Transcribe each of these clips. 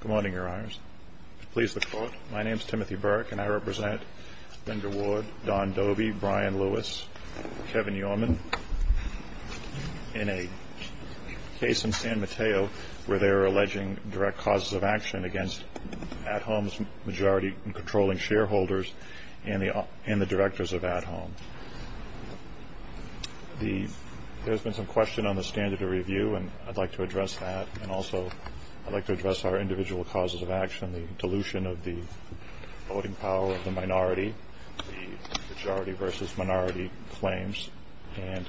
Good morning, Your Honors. Please look forward. My name is Timothy Burke, and I represent Linda Ward, Don Dovey, Brian Lewis, Kevin Yorman, in a case in San Mateo where they are alleging direct causes of action against At Home's majority controlling shareholders and the directors of At Home. There has been some question on the standard of review, and I'd like to address that, and also I'd like to address our individual causes of action, the dilution of the voting power of the minority, the majority versus minority claims. And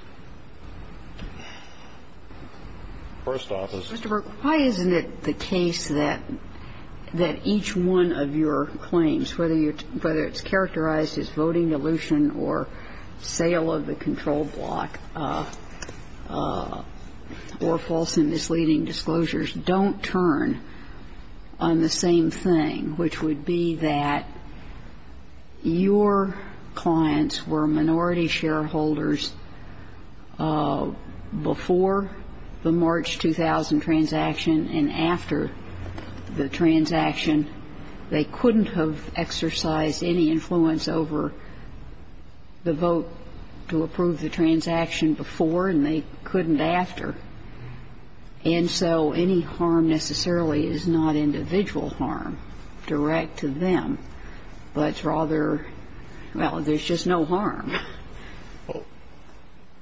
first off is — Mr. Burke, why isn't it the case that each one of your claims, whether it's characterized as voting dilution or sale of the control block or false and misleading disclosures, don't turn on the same thing, which would be that your clients were minority shareholders before the March 2000 transaction and after the transaction. They couldn't have exercised any influence over the vote to approve the transaction before, and they couldn't after. And so any harm necessarily is not individual harm direct to them, but rather, well, there's just no harm.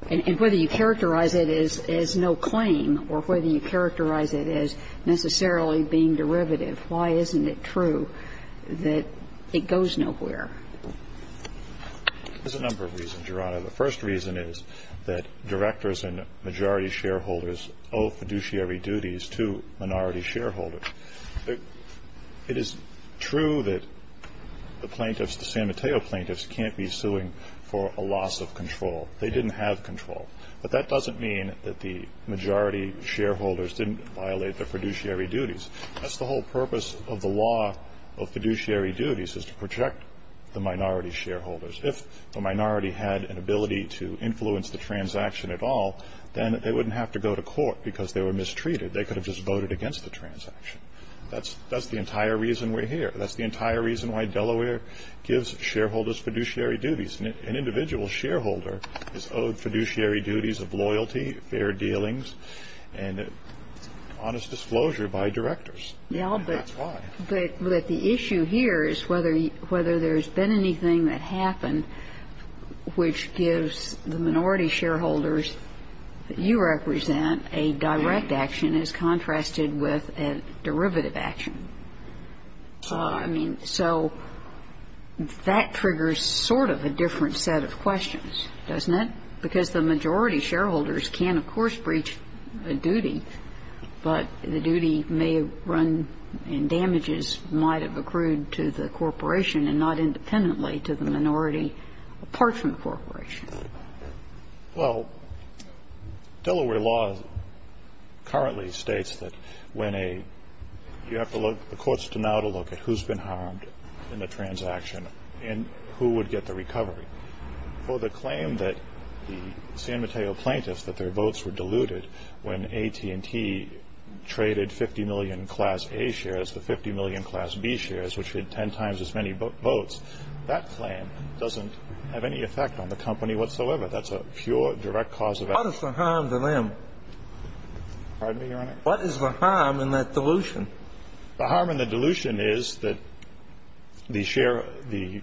And whether you characterize it as no claim or whether you characterize it as necessarily being derivative, why isn't it true that it goes nowhere? There's a number of reasons, Your Honor. The first reason is that directors and majority shareholders owe fiduciary duties to minority shareholders. It is true that the plaintiffs, the San Mateo plaintiffs, can't be suing for a loss of control. They didn't have control. But that doesn't mean that the majority shareholders didn't violate their fiduciary duties. That's the whole purpose of the law of fiduciary duties is to protect the minority shareholders. If the minority had an ability to influence the transaction at all, then they wouldn't have to go to court because they were mistreated. They could have just voted against the transaction. That's the entire reason we're here. That's the entire reason why Delaware gives shareholders fiduciary duties. An individual shareholder is owed fiduciary duties of loyalty, fair dealings, and honest disclosure by directors. That's why. But the issue here is whether there's been anything that happened which gives the minority shareholders that you represent a direct action as contrasted with a derivative action. I mean, so that triggers sort of a different set of questions, doesn't it? Because the majority shareholders can, of course, breach a duty, but the duty may run and damages might have accrued to the corporation and not independently to the minority, apart from the corporation. Well, Delaware law currently states that when a – you have to look – the courts do not look at who's been harmed in the transaction and who would get the recovery. For the claim that the San Mateo plaintiffs, that their votes were diluted when AT&T traded 50 million Class A shares to 50 million Class B shares, which had 10 times as many votes, that claim doesn't have any effect on the company whatsoever. That's a pure, direct cause of action. What is the harm to them? Pardon me, Your Honor? What is the harm in that dilution? The harm in the dilution is that the share – the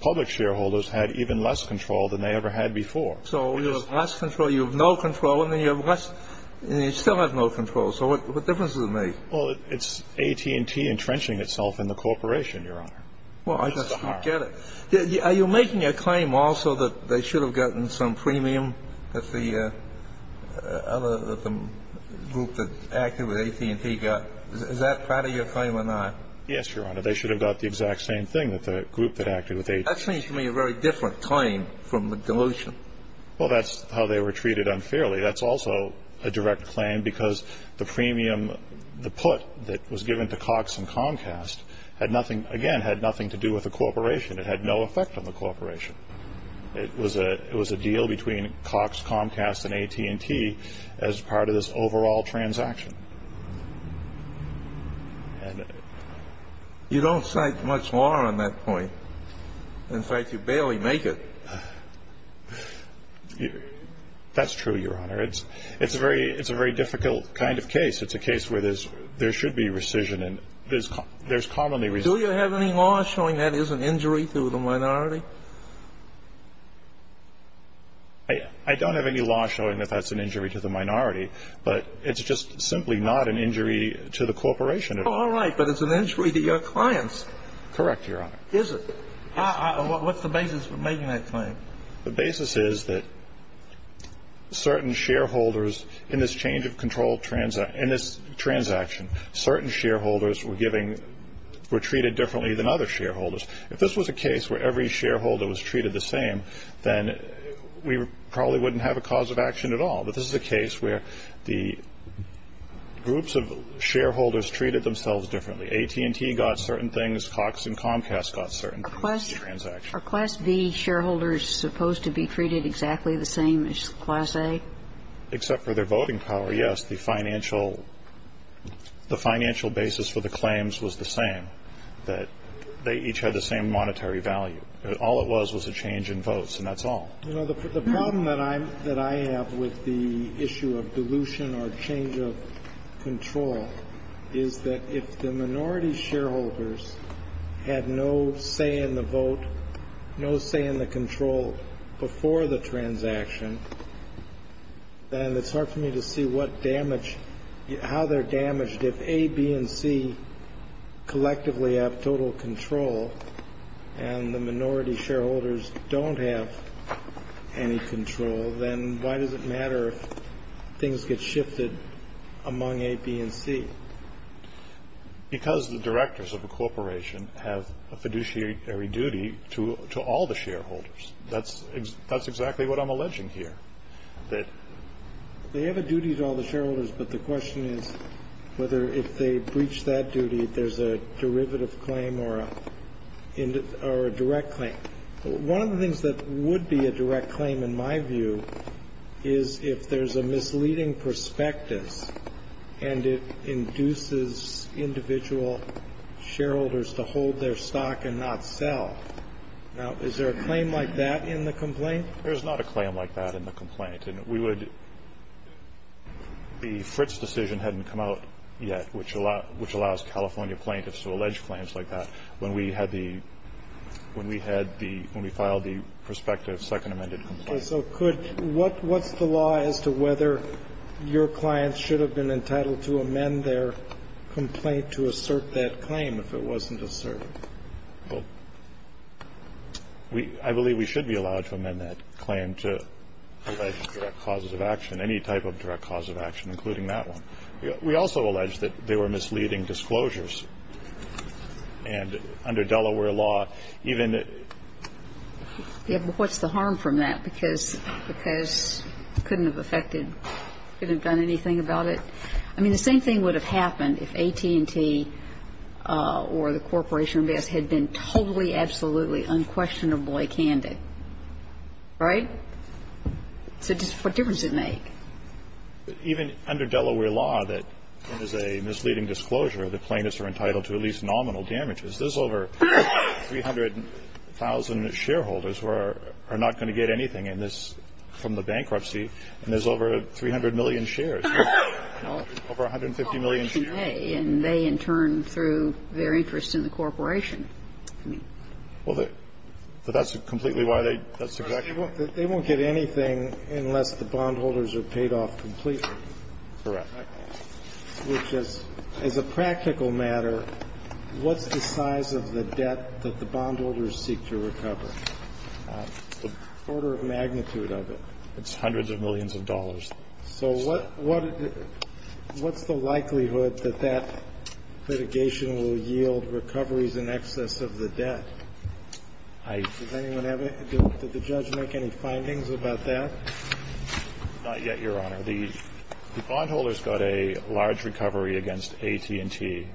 public shareholders had even less control than they ever had before. So you have less control, you have no control, and then you have less – and you still have no control. So what difference does it make? Well, it's AT&T entrenching itself in the corporation, Your Honor. Well, I just don't get it. That's the harm. Are you making a claim also that they should have gotten some premium that the other – that the group that acted with AT&T got? Is that part of your claim or not? Yes, Your Honor. They should have got the exact same thing that the group that acted with AT&T. That seems to me a very different claim from the dilution. Well, that's how they were treated unfairly. That's also a direct claim because the premium – the premium that was given to Cox and Comcast had nothing – again, had nothing to do with the corporation. It had no effect on the corporation. It was a deal between Cox, Comcast, and AT&T as part of this overall transaction. You don't cite much more on that point. In fact, you barely make it. That's true, Your Honor. It's a very difficult kind of case. It's a case where there should be rescission and there's commonly – Do you have any law showing that is an injury to the minority? I don't have any law showing that that's an injury to the minority, but it's just simply not an injury to the corporation. All right, but it's an injury to your clients. Correct, Your Honor. Is it? What's the basis for making that claim? The basis is that certain shareholders in this change of control – in this transaction, certain shareholders were given – were treated differently than other shareholders. If this was a case where every shareholder was treated the same, then we probably wouldn't have a cause of action at all. But this is a case where the groups of shareholders treated themselves differently. AT&T got certain things. Cox and Comcast got certain things. Are Class B shareholders supposed to be treated exactly the same as Class A? Except for their voting power, yes. The financial basis for the claims was the same, that they each had the same monetary value. All it was was a change in votes, and that's all. You know, the problem that I have with the issue of dilution or change of control is that if the minority shareholders had no say in the vote, no say in the control before the transaction, then it's hard for me to see what damage – how they're damaged. If A, B, and C collectively have total control and the minority shareholders don't have any control, then why does it matter if things get shifted among A, B, and C? Because the directors of a corporation have a fiduciary duty to all the shareholders. That's exactly what I'm alleging here. They have a duty to all the shareholders, but the question is whether if they breach that duty there's a derivative claim or a direct claim. One of the things that would be a direct claim in my view is if there's a misleading prospectus and it induces individual shareholders to hold their stock and not sell. Now, is there a claim like that in the complaint? There's not a claim like that in the complaint. And we would – the Fritz decision hadn't come out yet, which allows California plaintiffs to allege claims like that. When we had the – when we had the – when we filed the prospective second amended complaint. So could – what's the law as to whether your clients should have been entitled to amend their complaint to assert that claim if it wasn't asserted? I believe we should be allowed to amend that claim to allege direct causes of action, any type of direct cause of action, including that one. We also allege that they were misleading disclosures. And under Delaware law, even the – Yeah, but what's the harm from that? Because it couldn't have affected – couldn't have done anything about it? I mean, the same thing would have happened if AT&T or the Corporation of Investments had been totally, absolutely, unquestionably candid. Right? So what difference does it make? Even under Delaware law, that is a misleading disclosure, the plaintiffs are entitled to at least nominal damages. There's over 300,000 shareholders who are not going to get anything in this – from the bankruptcy. And there's over 300 million shares. Over 150 million shares. And they, in turn, threw their interest in the corporation. Well, that's completely why they – that's exactly why. They won't get anything unless the bondholders are paid off completely. Correct. Which is, as a practical matter, what's the size of the debt that the bondholders seek to recover? The order of magnitude of it. It's hundreds of millions of dollars. So what's the likelihood that that litigation will yield recoveries in excess of the debt? I – Did the judge make any findings about that? Not yet, Your Honor. The bondholders got a large recovery against AT&T.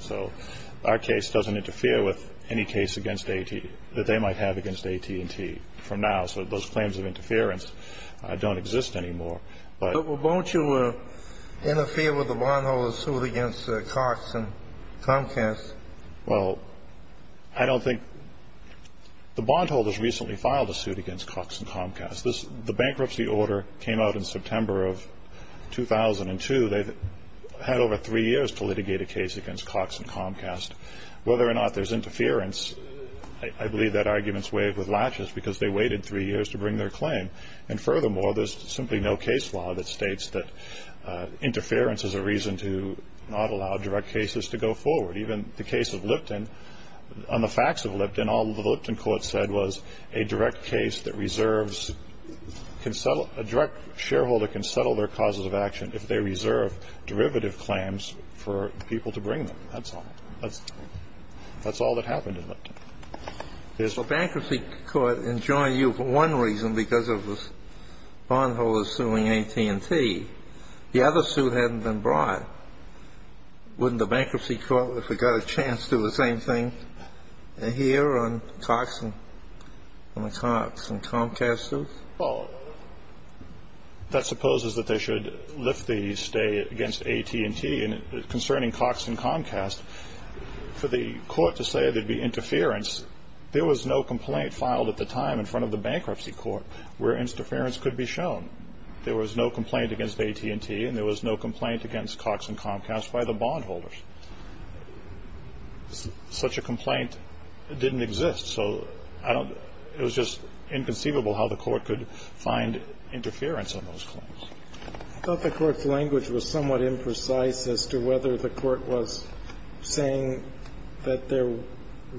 So our case doesn't interfere with any case against AT – that they might have against AT&T from now. So those claims of interference don't exist anymore. But won't you interfere with the bondholders' suit against Cox and Comcast? Well, I don't think – the bondholders recently filed a suit against Cox and Comcast. The bankruptcy order came out in September of 2002. They've had over three years to litigate a case against Cox and Comcast. Whether or not there's interference, I believe that argument's waived with laches because they waited three years to bring their claim. And furthermore, there's simply no case law that states that interference is a reason to not allow direct cases to go forward, even the case of Lipton. On the facts of Lipton, all the Lipton court said was a direct case that reserves – a direct shareholder can settle their causes of action if they reserve derivative claims for people to bring them. That's all. That's all that happened in Lipton. The bankruptcy court enjoined you for one reason because of the bondholders suing AT&T. The other suit hadn't been brought. Wouldn't the bankruptcy court, if it got a chance, do the same thing here on Cox and Comcast's suit? Well, that supposes that they should lift the stay against AT&T concerning Cox and Comcast. For the court to say there'd be interference, there was no complaint filed at the time in front of the bankruptcy court where interference could be shown. There was no complaint against AT&T, and there was no complaint against Cox and Comcast by the bondholders. Such a complaint didn't exist. So I don't – it was just inconceivable how the court could find interference in those claims. I thought the court's language was somewhat imprecise as to whether the court was saying that there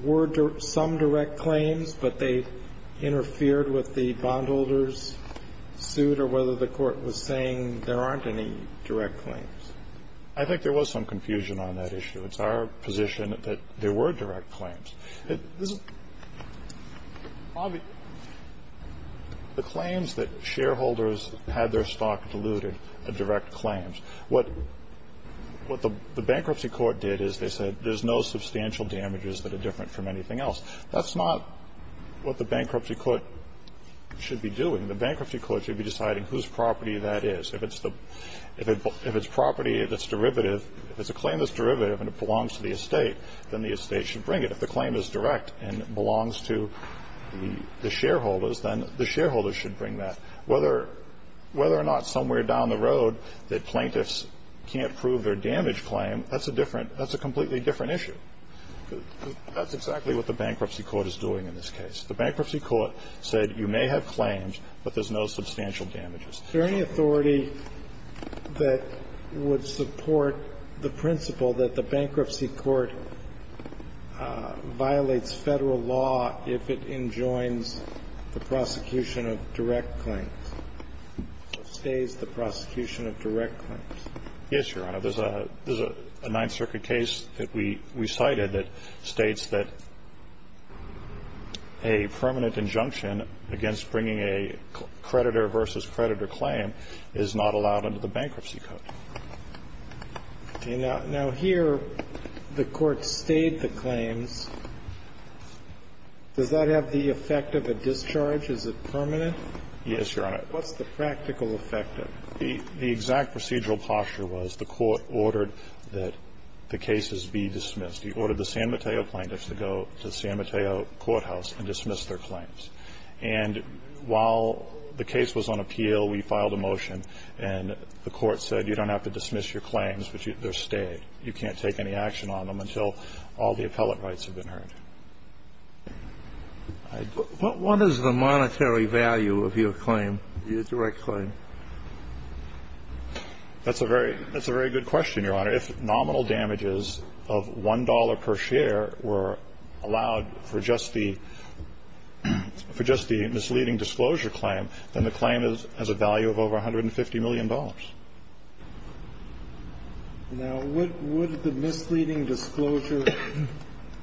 were some direct claims, but they interfered with the bondholders' suit, or whether the court was saying there aren't any direct claims. I think there was some confusion on that issue. It's our position that there were direct claims. The claims that shareholders had their stock diluted are direct claims. What the bankruptcy court did is they said there's no substantial damages that are different from anything else. That's not what the bankruptcy court should be doing. The bankruptcy court should be deciding whose property that is. If it's property that's derivative, if it's a claim that's derivative and it belongs to the estate, then the estate should bring it. If the claim is direct and it belongs to the shareholders, then the shareholders should bring that. Whether or not somewhere down the road the plaintiffs can't prove their damage claim, that's a completely different issue. That's exactly what the bankruptcy court is doing in this case. The bankruptcy court said you may have claims, but there's no substantial damages. Is there any authority that would support the principle that the bankruptcy court violates Federal law if it enjoins the prosecution of direct claims, stays the prosecution of direct claims? Yes, Your Honor. There's a Ninth Circuit case that we cited that states that a permanent injunction against bringing a creditor versus creditor claim is not allowed under the bankruptcy code. Now, here the court stayed the claims. Does that have the effect of a discharge? Is it permanent? Yes, Your Honor. What's the practical effect of it? The exact procedural posture was the court ordered that the cases be dismissed. He ordered the San Mateo plaintiffs to go to the San Mateo courthouse and dismiss their claims. And while the case was on appeal, we filed a motion, and the court said you don't have to dismiss your claims, but they're stayed. You can't take any action on them until all the appellate rights have been earned. What is the monetary value of your claim, your direct claim? That's a very good question, Your Honor. If nominal damages of $1 per share were allowed for just the misleading disclosure claim, then the claim has a value of over $150 million. Now, would the misleading disclosure,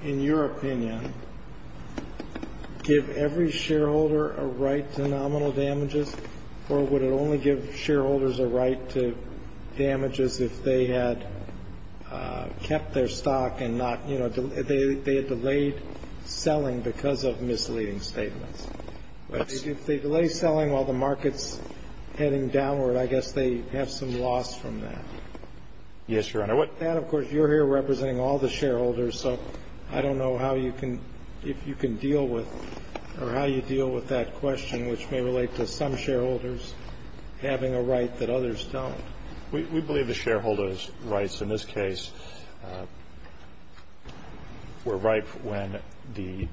in your opinion, give every shareholder a right to nominal damages, or would it only give shareholders a right to damages if they had kept their stock and not, you know, they had delayed selling because of misleading statements? If they delay selling while the market's heading downward, I guess they have some loss from that. Yes, Your Honor. That, of course, you're here representing all the shareholders, so I don't know how you can, if you can deal with or how you deal with that question, which may relate to some shareholders having a right that others don't. We believe the shareholders' rights in this case were ripe when the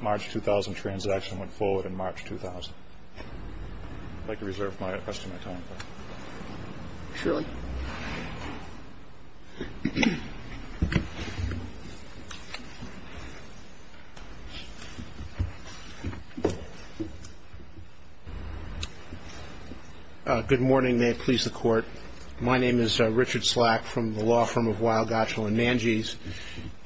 March 2000 transaction went forward in March 2000. I'd like to reserve the rest of my time for that. Surely. Thank you. Good morning. May it please the Court. My name is Richard Slack from the law firm of Weill, Gottschall & Manges,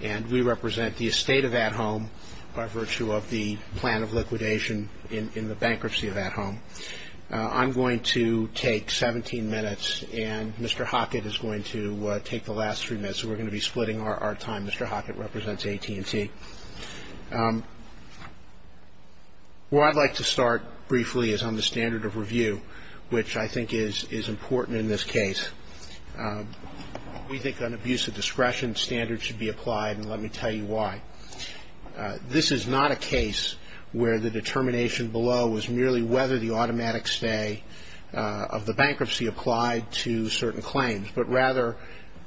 and we represent the estate of At Home by virtue of the plan of liquidation in the bankruptcy of At Home. I'm going to take 17 minutes, and Mr. Hockett is going to take the last three minutes, so we're going to be splitting our time. Mr. Hockett represents AT&T. Where I'd like to start briefly is on the standard of review, which I think is important in this case. We think on abuse of discretion standards should be applied, and let me tell you why. This is not a case where the determination below was merely whether the automatic stay of the bankruptcy applied to certain claims, but rather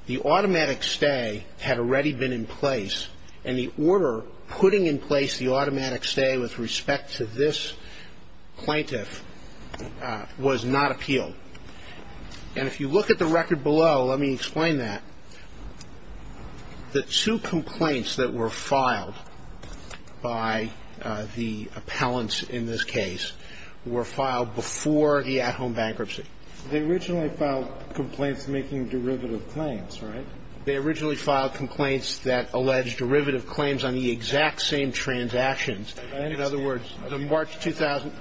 the automatic stay had already been in place, and the order putting in place the automatic stay with respect to this plaintiff was not appealed. And if you look at the record below, let me explain that. The two complaints that were filed by the appellants in this case were filed before the At Home bankruptcy. They originally filed complaints making derivative claims, right? They originally filed complaints that alleged derivative claims on the exact same transactions. In other words, the March 2000,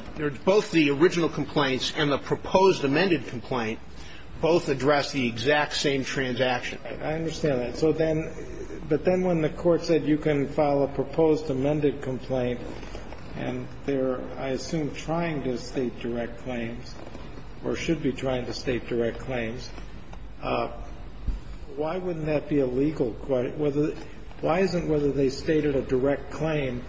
both the original complaints and the proposed amended complaint both addressed the exact same transaction. I understand that. So then, but then when the Court said you can file a proposed amended complaint and they're, I assume, trying to state direct claims or should be trying to state direct claims, why wouldn't that be a legal question? Why isn't whether they stated a direct claim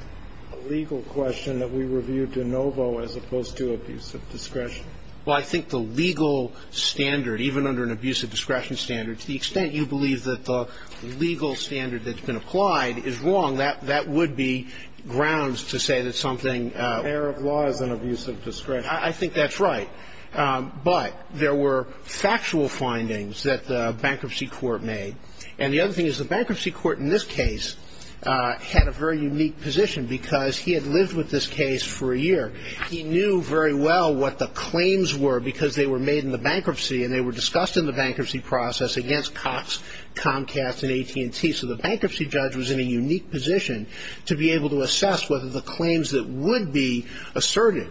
a legal question that we review de novo as opposed to abuse of discretion? Well, I think the legal standard, even under an abuse of discretion standard, to the extent you believe that the legal standard that's been applied is wrong, that would be grounds to say that something ---- Error of laws and abuse of discretion. I think that's right. But there were factual findings that the bankruptcy court made. And the other thing is the bankruptcy court in this case had a very unique position because he had lived with this case for a year. He knew very well what the claims were because they were made in the bankruptcy and they were discussed in the bankruptcy process against Cox, Comcast, and AT&T. So the bankruptcy judge was in a unique position to be able to assess whether the claims that would be asserted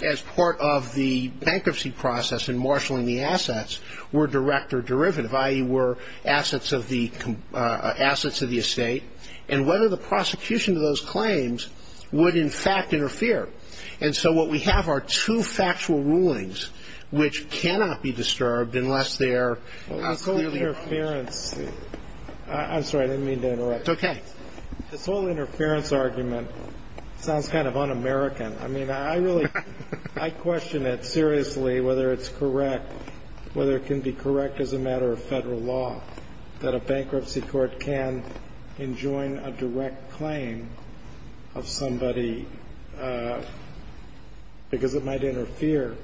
as part of the bankruptcy process in marshaling the assets were direct or derivative, i.e. were assets of the estate, and whether the prosecution of those claims would, in fact, interfere. And so what we have are two factual rulings which cannot be disturbed unless they are clearly ---- Well, this whole interference ---- I'm sorry. I didn't mean to interrupt you. It's okay. This whole interference argument sounds kind of un-American. I mean, I really ---- I question it seriously, whether it's correct, whether it can be correct as a matter of Federal law that a bankruptcy court can enjoin a direct claim of somebody because it might interfere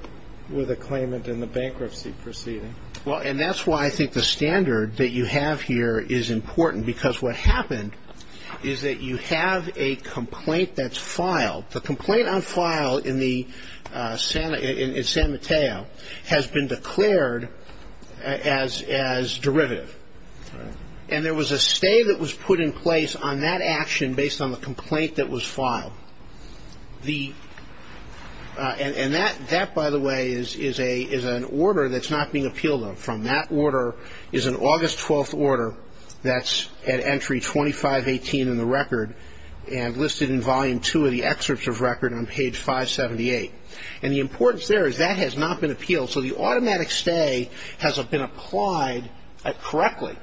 with a claimant in the bankruptcy proceeding. Well, and that's why I think the standard that you have here is important because what happened is that you have a complaint that's filed. The complaint on file in San Mateo has been declared as derivative. And there was a stay that was put in place on that action based on the complaint that was filed. And that, by the way, is an order that's not being appealed on. From that order is an August 12th order that's at entry 2518 in the record and listed in volume two of the excerpts of record on page 578. And the importance there is that has not been appealed. So the automatic stay has been applied correctly,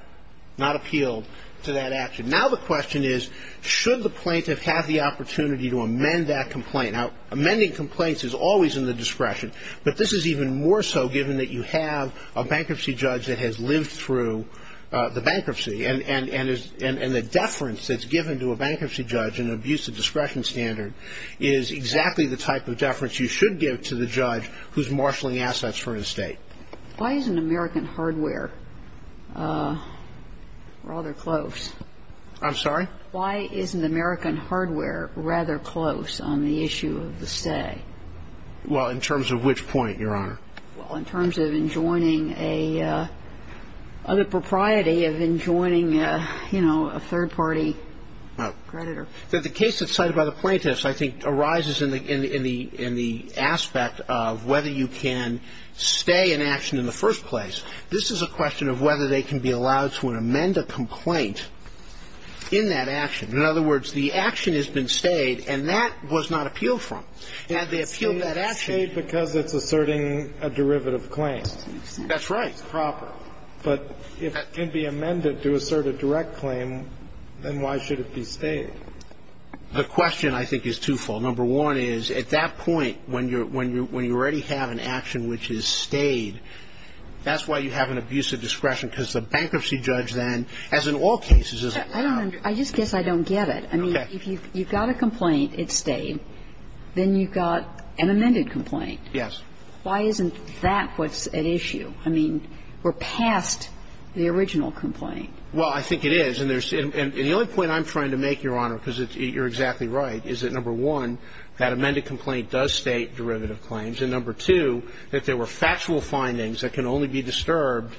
not appealed to that action. Now the question is, should the plaintiff have the opportunity to amend that complaint? Now, amending complaints is always in the discretion, but this is even more so given that you have a bankruptcy judge that has lived through the bankruptcy and the deference that's given to a bankruptcy judge in an abusive discretion standard is exactly the type of deference you should give to the judge who's marshaling assets for an estate. Why isn't American hardware rather close? I'm sorry? Why isn't American hardware rather close on the issue of the stay? Well, in terms of which point, Your Honor? Well, in terms of enjoining a other propriety of enjoining, you know, a third-party creditor. The case that's cited by the plaintiffs I think arises in the aspect of whether you can stay an action in the first place. This is a question of whether they can be allowed to amend a complaint in that action. In other words, the action has been stayed and that was not appealed from. And they appealed that action. It's been stayed because it's asserting a derivative claim. That's right. It's proper. But if it can be amended to assert a direct claim, then why should it be stayed? The question, I think, is twofold. Number one is, at that point, when you already have an action which is stayed, that's why you have an abusive discretion, because the bankruptcy judge then, as in all cases, is allowed. I just guess I don't get it. Okay. If you've got a complaint, it's stayed, then you've got an amended complaint. Yes. Why isn't that what's at issue? I mean, we're past the original complaint. Well, I think it is. And the only point I'm trying to make, Your Honor, because you're exactly right, is that, number one, that amended complaint does state derivative claims, and, number two, that there were factual findings that can only be disturbed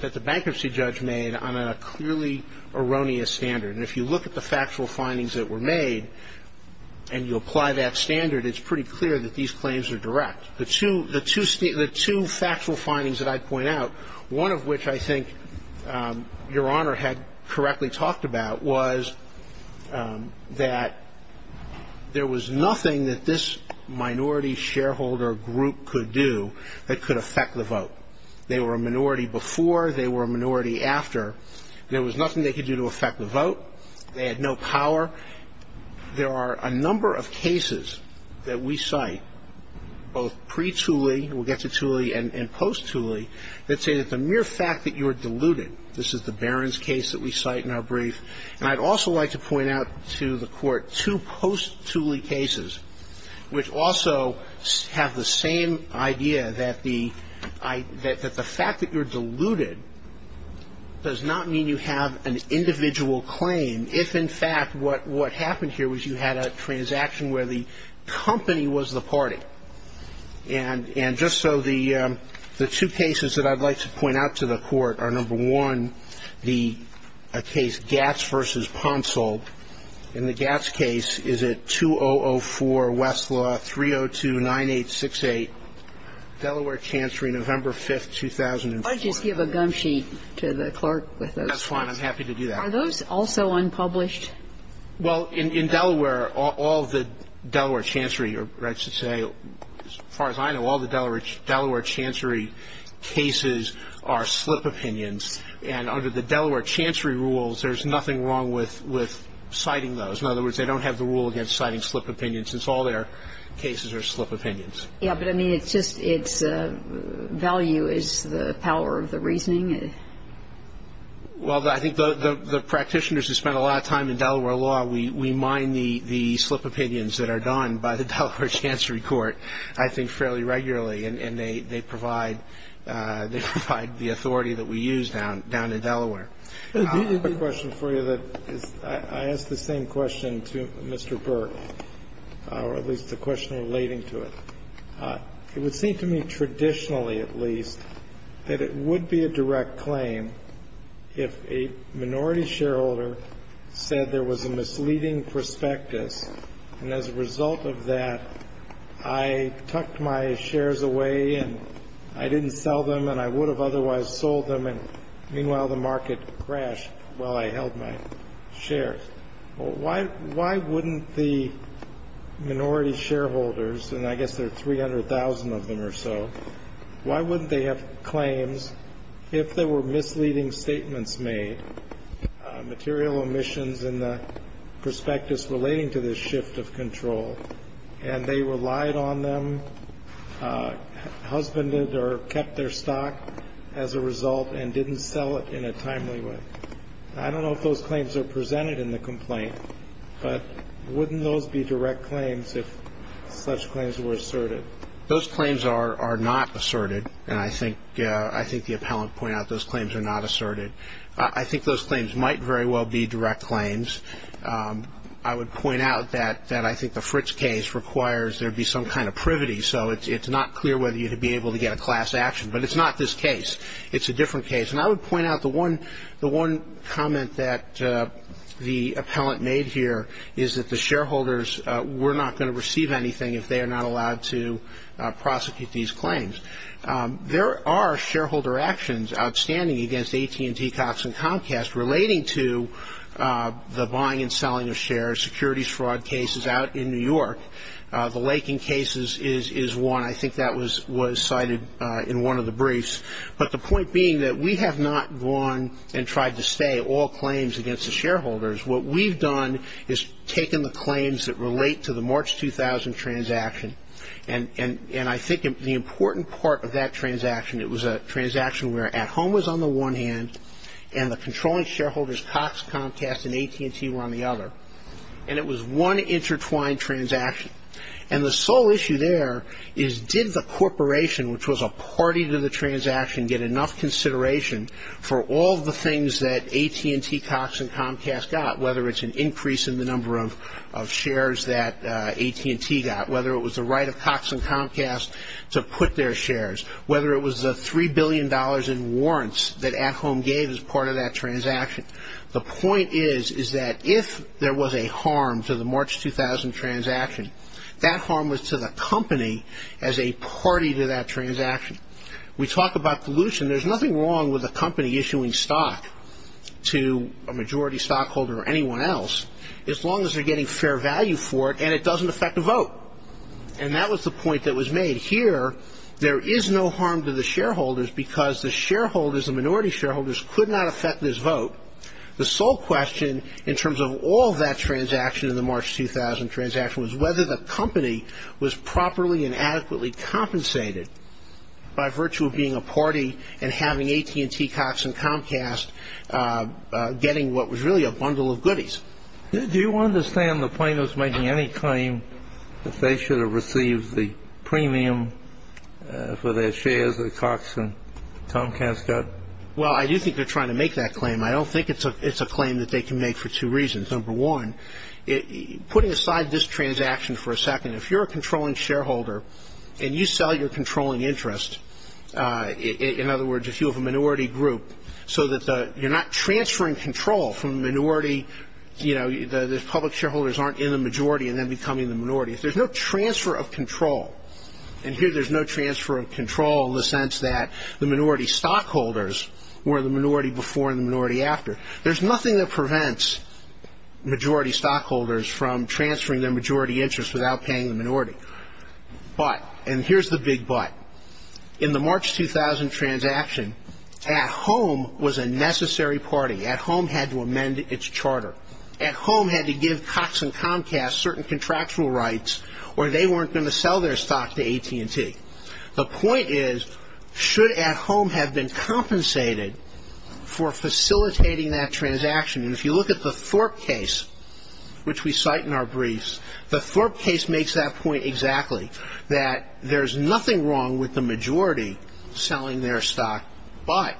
that the bankruptcy judge made on a clearly erroneous standard. And if you look at the factual findings that were made and you apply that standard, it's pretty clear that these claims are direct. The two factual findings that I point out, one of which I think Your Honor had correctly talked about, was that there was nothing that this minority shareholder group could do that could affect the vote. They were a minority before. They were a minority after. There was nothing they could do to affect the vote. They had no power. There are a number of cases that we cite, both pre-Tooley, we'll get to Tooley, and post-Tooley, that say that the mere fact that you're diluted, this is the Barron's case that we cite in our brief, and I'd also like to point out to the Court two post-Tooley cases, which also have the same idea that the fact that you're diluted does not mean you have an individual claim if, in fact, what happened here was you had a transaction where the company was the party. And just so the two cases that I'd like to point out to the Court are, number one, the case Gatz v. Poncel. In the Gatz case, is it 2004, Westlaw, 302-9868, Delaware Chancery, November 5th, 2004. And I'll just give a gum sheet to the clerk with those. That's fine. I'm happy to do that. Are those also unpublished? Well, in Delaware, all the Delaware Chancery, or I should say, as far as I know, all the Delaware Chancery cases are slip opinions. And under the Delaware Chancery rules, there's nothing wrong with citing those. In other words, they don't have the rule against citing slip opinions, since all their cases are slip opinions. Yeah, but, I mean, it's just its value is the power of the reasoning. Well, I think the practitioners who spend a lot of time in Delaware law, we mine the slip opinions that are done by the Delaware Chancery Court, I think, fairly regularly. And they provide the authority that we use down in Delaware. I have a question for you. I ask the same question to Mr. Burke, or at least the question relating to it. It would seem to me, traditionally at least, that it would be a direct claim if a minority shareholder said there was a misleading prospectus, and as a result of that, I tucked my shares away and I didn't sell them and I would have otherwise sold them, and meanwhile the market crashed while I held my shares. Why wouldn't the minority shareholders, and I guess there are 300,000 of them or so, why wouldn't they have claims if there were misleading statements made, material omissions in the prospectus relating to this shift of control, and they relied on them, husbanded or kept their stock as a result, and didn't sell it in a timely way? I don't know if those claims are presented in the complaint, but wouldn't those be direct claims if such claims were asserted? Those claims are not asserted, and I think the appellant pointed out those claims are not asserted. I think those claims might very well be direct claims. I would point out that I think the Fritz case requires there be some kind of privity, so it's not clear whether you'd be able to get a class action, but it's not this case. It's a different case, and I would point out the one comment that the appellant made here is that the shareholders were not going to receive anything if they are not allowed to prosecute these claims. There are shareholder actions outstanding against AT&T, Cox, and Comcast relating to the buying and selling of shares, securities fraud cases out in New York. The Lakin case is one. I think that was cited in one of the briefs. But the point being that we have not gone and tried to stay all claims against the shareholders. What we've done is taken the claims that relate to the March 2000 transaction, and I think the important part of that transaction, it was a transaction where At Home was on the one hand and the controlling shareholders, Cox, Comcast, and AT&T were on the other, and it was one intertwined transaction. And the sole issue there is did the corporation, which was a party to the transaction, get enough consideration for all the things that AT&T, Cox, and Comcast got, whether it's an increase in the number of shares that AT&T got, whether it was the right of Cox and Comcast to put their shares, whether it was the $3 billion in warrants that At Home gave as part of that transaction. The point is that if there was a harm to the March 2000 transaction, that harm was to the company as a party to that transaction. We talk about pollution. There's nothing wrong with a company issuing stock to a majority stockholder or anyone else as long as they're getting fair value for it and it doesn't affect the vote. And that was the point that was made here. There is no harm to the shareholders because the shareholders, the minority shareholders, could not affect this vote. The sole question in terms of all that transaction in the March 2000 transaction was whether the company was properly and adequately compensated by virtue of being a party and having AT&T, Cox, and Comcast getting what was really a bundle of goodies. Do you understand the plaintiffs making any claim that they should have received the premium for their shares that Cox and Comcast got? Well, I do think they're trying to make that claim. I don't think it's a claim that they can make for two reasons. Number one, putting aside this transaction for a second, if you're a controlling shareholder and you sell your controlling interest, in other words, if you have a minority group, so that you're not transferring control from the minority, you know, the public shareholders aren't in the majority and then becoming the minority. There's no transfer of control. And here there's no transfer of control in the sense that the minority stockholders were the minority before and the minority after. There's nothing that prevents majority stockholders from transferring their majority interest without paying the minority. But, and here's the big but, in the March 2000 transaction, at home was a necessary party. At home had to amend its charter. At home had to give Cox and Comcast certain contractual rights or they weren't going to sell their stock to AT&T. The point is, should at home have been compensated for facilitating that transaction? And if you look at the Thorpe case, which we cite in our briefs, the Thorpe case makes that point exactly, that there's nothing wrong with the majority selling their stock. But,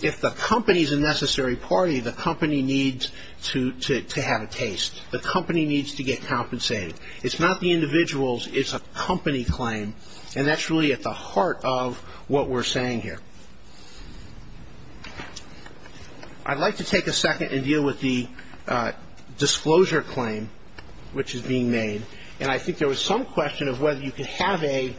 if the company's a necessary party, the company needs to have a taste. The company needs to get compensated. It's not the individuals, it's a company claim. And that's really at the heart of what we're saying here. I'd like to take a second and deal with the disclosure claim which is being made. And I think there was some question of whether you could have a,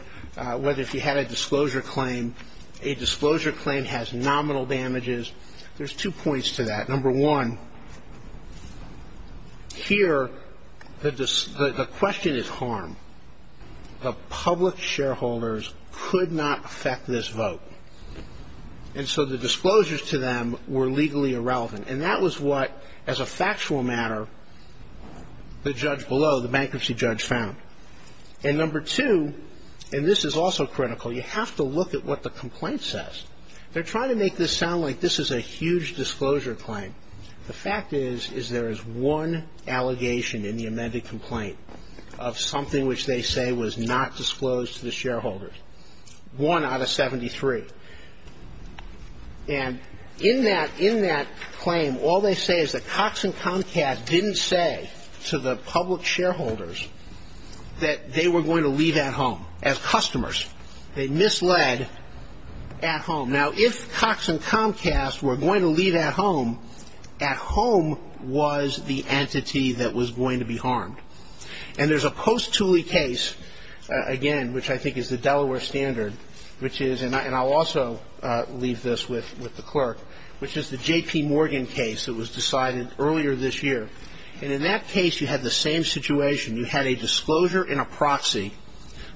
whether if you had a disclosure claim, a disclosure claim has nominal damages. There's two points to that. Number one, here the question is harm. The public shareholders could not affect this vote. And so the disclosures to them were legally irrelevant. And that was what, as a factual matter, the judge below, the bankruptcy judge found. And number two, and this is also critical, you have to look at what the complaint says. They're trying to make this sound like this is a huge disclosure claim. The fact is, is there is one allegation in the amended complaint of something which they say was not disclosed to the shareholders. One out of 73. And in that claim, all they say is that Cox and Comcast didn't say to the public shareholders that they were going to leave at home as customers. They misled at home. Now, if Cox and Comcast were going to leave at home, at home was the entity that was going to be harmed. And there's a post Tooley case, again, which I think is the Delaware standard, which is, and I'll also leave this with the clerk, which is the J.P. Morgan case that was decided earlier this year. And in that case, you had the same situation. You had a disclosure and a proxy.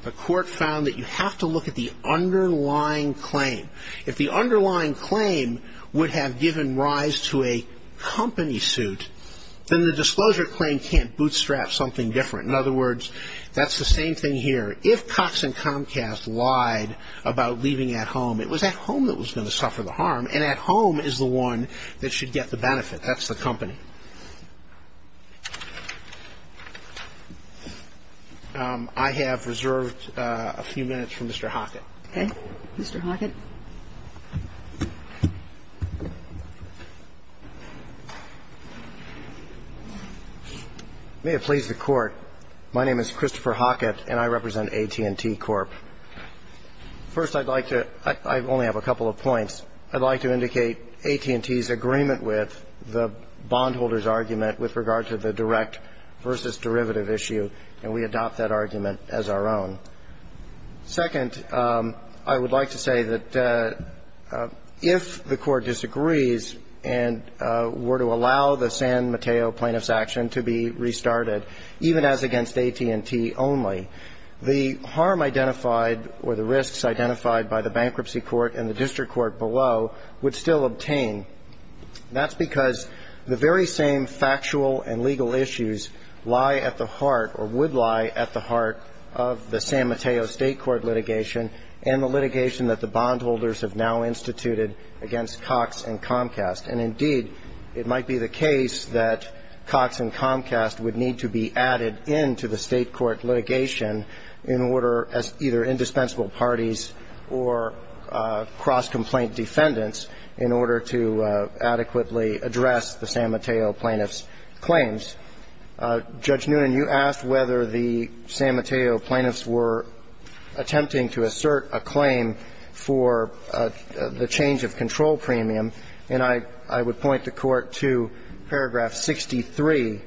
The court found that you have to look at the underlying claim. If the underlying claim would have given rise to a company suit, then the disclosure claim can't bootstrap something different. In other words, that's the same thing here. If Cox and Comcast lied about leaving at home, it was at home that was going to suffer the harm. And at home is the one that should get the benefit. That's the company. I have reserved a few minutes for Mr. Hockett. Okay. Mr. Hockett. May it please the Court. My name is Christopher Hockett, and I represent AT&T Corp. First, I'd like to – I only have a couple of points. First, I'd like to indicate AT&T's agreement with the bondholder's argument with regard to the direct versus derivative issue, and we adopt that argument as our own. Second, I would like to say that if the Court disagrees and were to allow the San Mateo plaintiff's action to be restarted, even as against AT&T only, the harm identified or the risks identified by the bankruptcy court and the district court below would still obtain. That's because the very same factual and legal issues lie at the heart or would lie at the heart of the San Mateo State Court litigation and the litigation that the bondholders have now instituted against Cox and Comcast. And indeed, it might be the case that Cox and Comcast would need to be added in to the State court litigation in order for either indispensable parties or cross-complaint defendants in order to adequately address the San Mateo plaintiff's claims. Judge Noonan, you asked whether the San Mateo plaintiffs were attempting to assert a claim for the change of control premium, and I would point the Court to paragraph 63,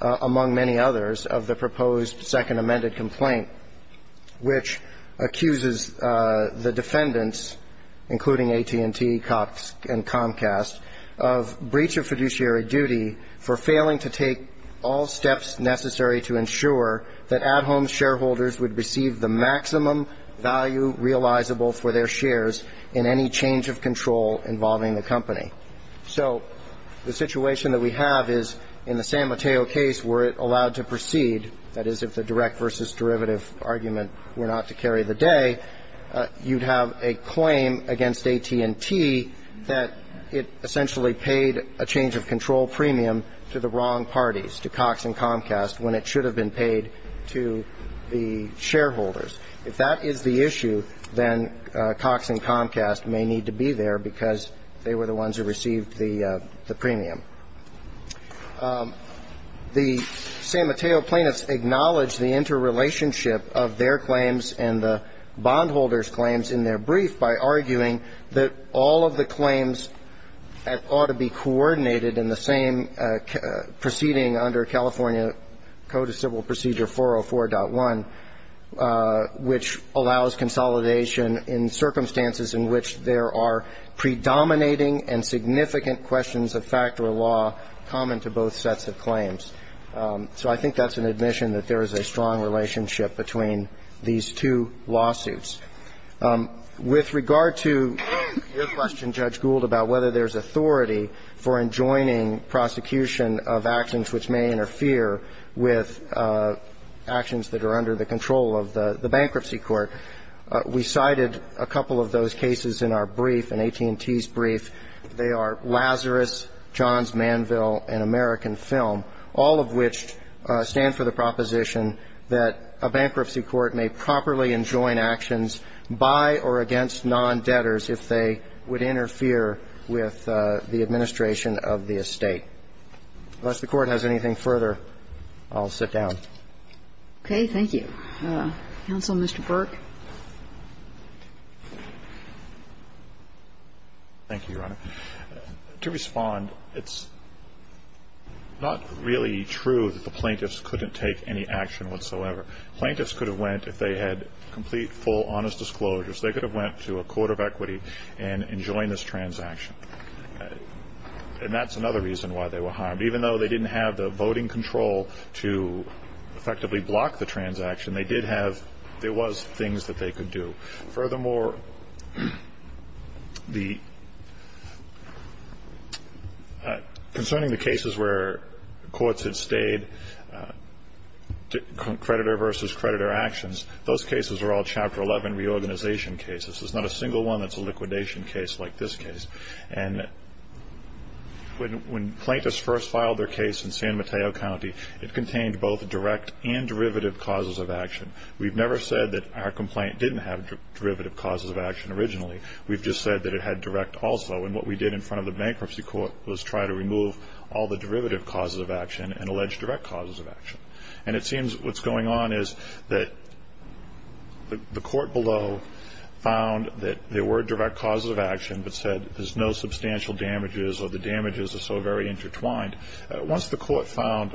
among many others, of the proposed second amended complaint. Which accuses the defendants, including AT&T, Cox and Comcast, of breach of fiduciary duty for failing to take all steps necessary to ensure that at-home shareholders would receive the maximum value realizable for their shares in any change of control involving the company. So the situation that we have is in the San Mateo case were it allowed to proceed, that is, if the direct versus derivative argument were not to carry the day, you'd have a claim against AT&T that it essentially paid a change of control premium to the wrong parties, to Cox and Comcast, when it should have been paid to the shareholders. If that is the issue, then Cox and Comcast may need to be there because they were the ones who received the premium. The San Mateo plaintiffs acknowledge the interrelationship of their claims and the bondholders' claims in their brief by arguing that all of the claims ought to be coordinated in the same proceeding under California Code of Civil Procedure 404.1, which allows consolidation in circumstances in which there are predominating and significant questions of fact or law common to both sets of claims. So I think that's an admission that there is a strong relationship between these two lawsuits. With regard to your question, Judge Gould, about whether there's authority for enjoining prosecution of actions which may interfere with actions that are under the control of the bankruptcy court, we cited a couple of those cases in our brief, in AT&T's case, and in the case of Lazarus, Johns Manville, and American Film, all of which stand for the proposition that a bankruptcy court may properly enjoin actions by or against non-debtors if they would interfere with the administration of the estate. Unless the Court has anything further, I'll sit down. Okay. Thank you. Counsel, Mr. Burke. Thank you, Your Honor. To respond, it's not really true that the plaintiffs couldn't take any action whatsoever. Plaintiffs could have went if they had complete, full, honest disclosures. They could have went to a court of equity and enjoined this transaction. And that's another reason why they were harmed. Even though they didn't have the voting control to effectively block the transaction, there was things that they could do. Furthermore, concerning the cases where courts had stayed, creditor versus creditor actions, those cases were all Chapter 11 reorganization cases. There's not a single one that's a liquidation case like this case. And when plaintiffs first filed their case in San Mateo County, it contained both direct and derivative causes of action. We've never said that our complaint didn't have derivative causes of action originally. We've just said that it had direct also. And what we did in front of the bankruptcy court was try to remove all the derivative causes of action and allege direct causes of action. And it seems what's going on is that the court below found that there were direct causes of action but said there's no substantial damages or the damages are so very intertwined. Once the court found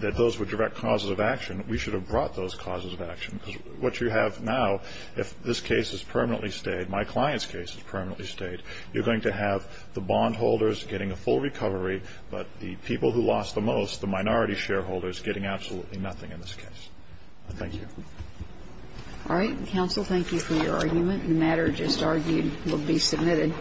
that those were direct causes of action, we should have brought those causes of action. Because what you have now, if this case is permanently stayed, my client's case is permanently stayed, you're going to have the bondholders getting a full recovery, but the people who lost the most, the minority shareholders, getting absolutely nothing in this case. Thank you. All right. Counsel, thank you for your argument. The matter just argued will be submitted.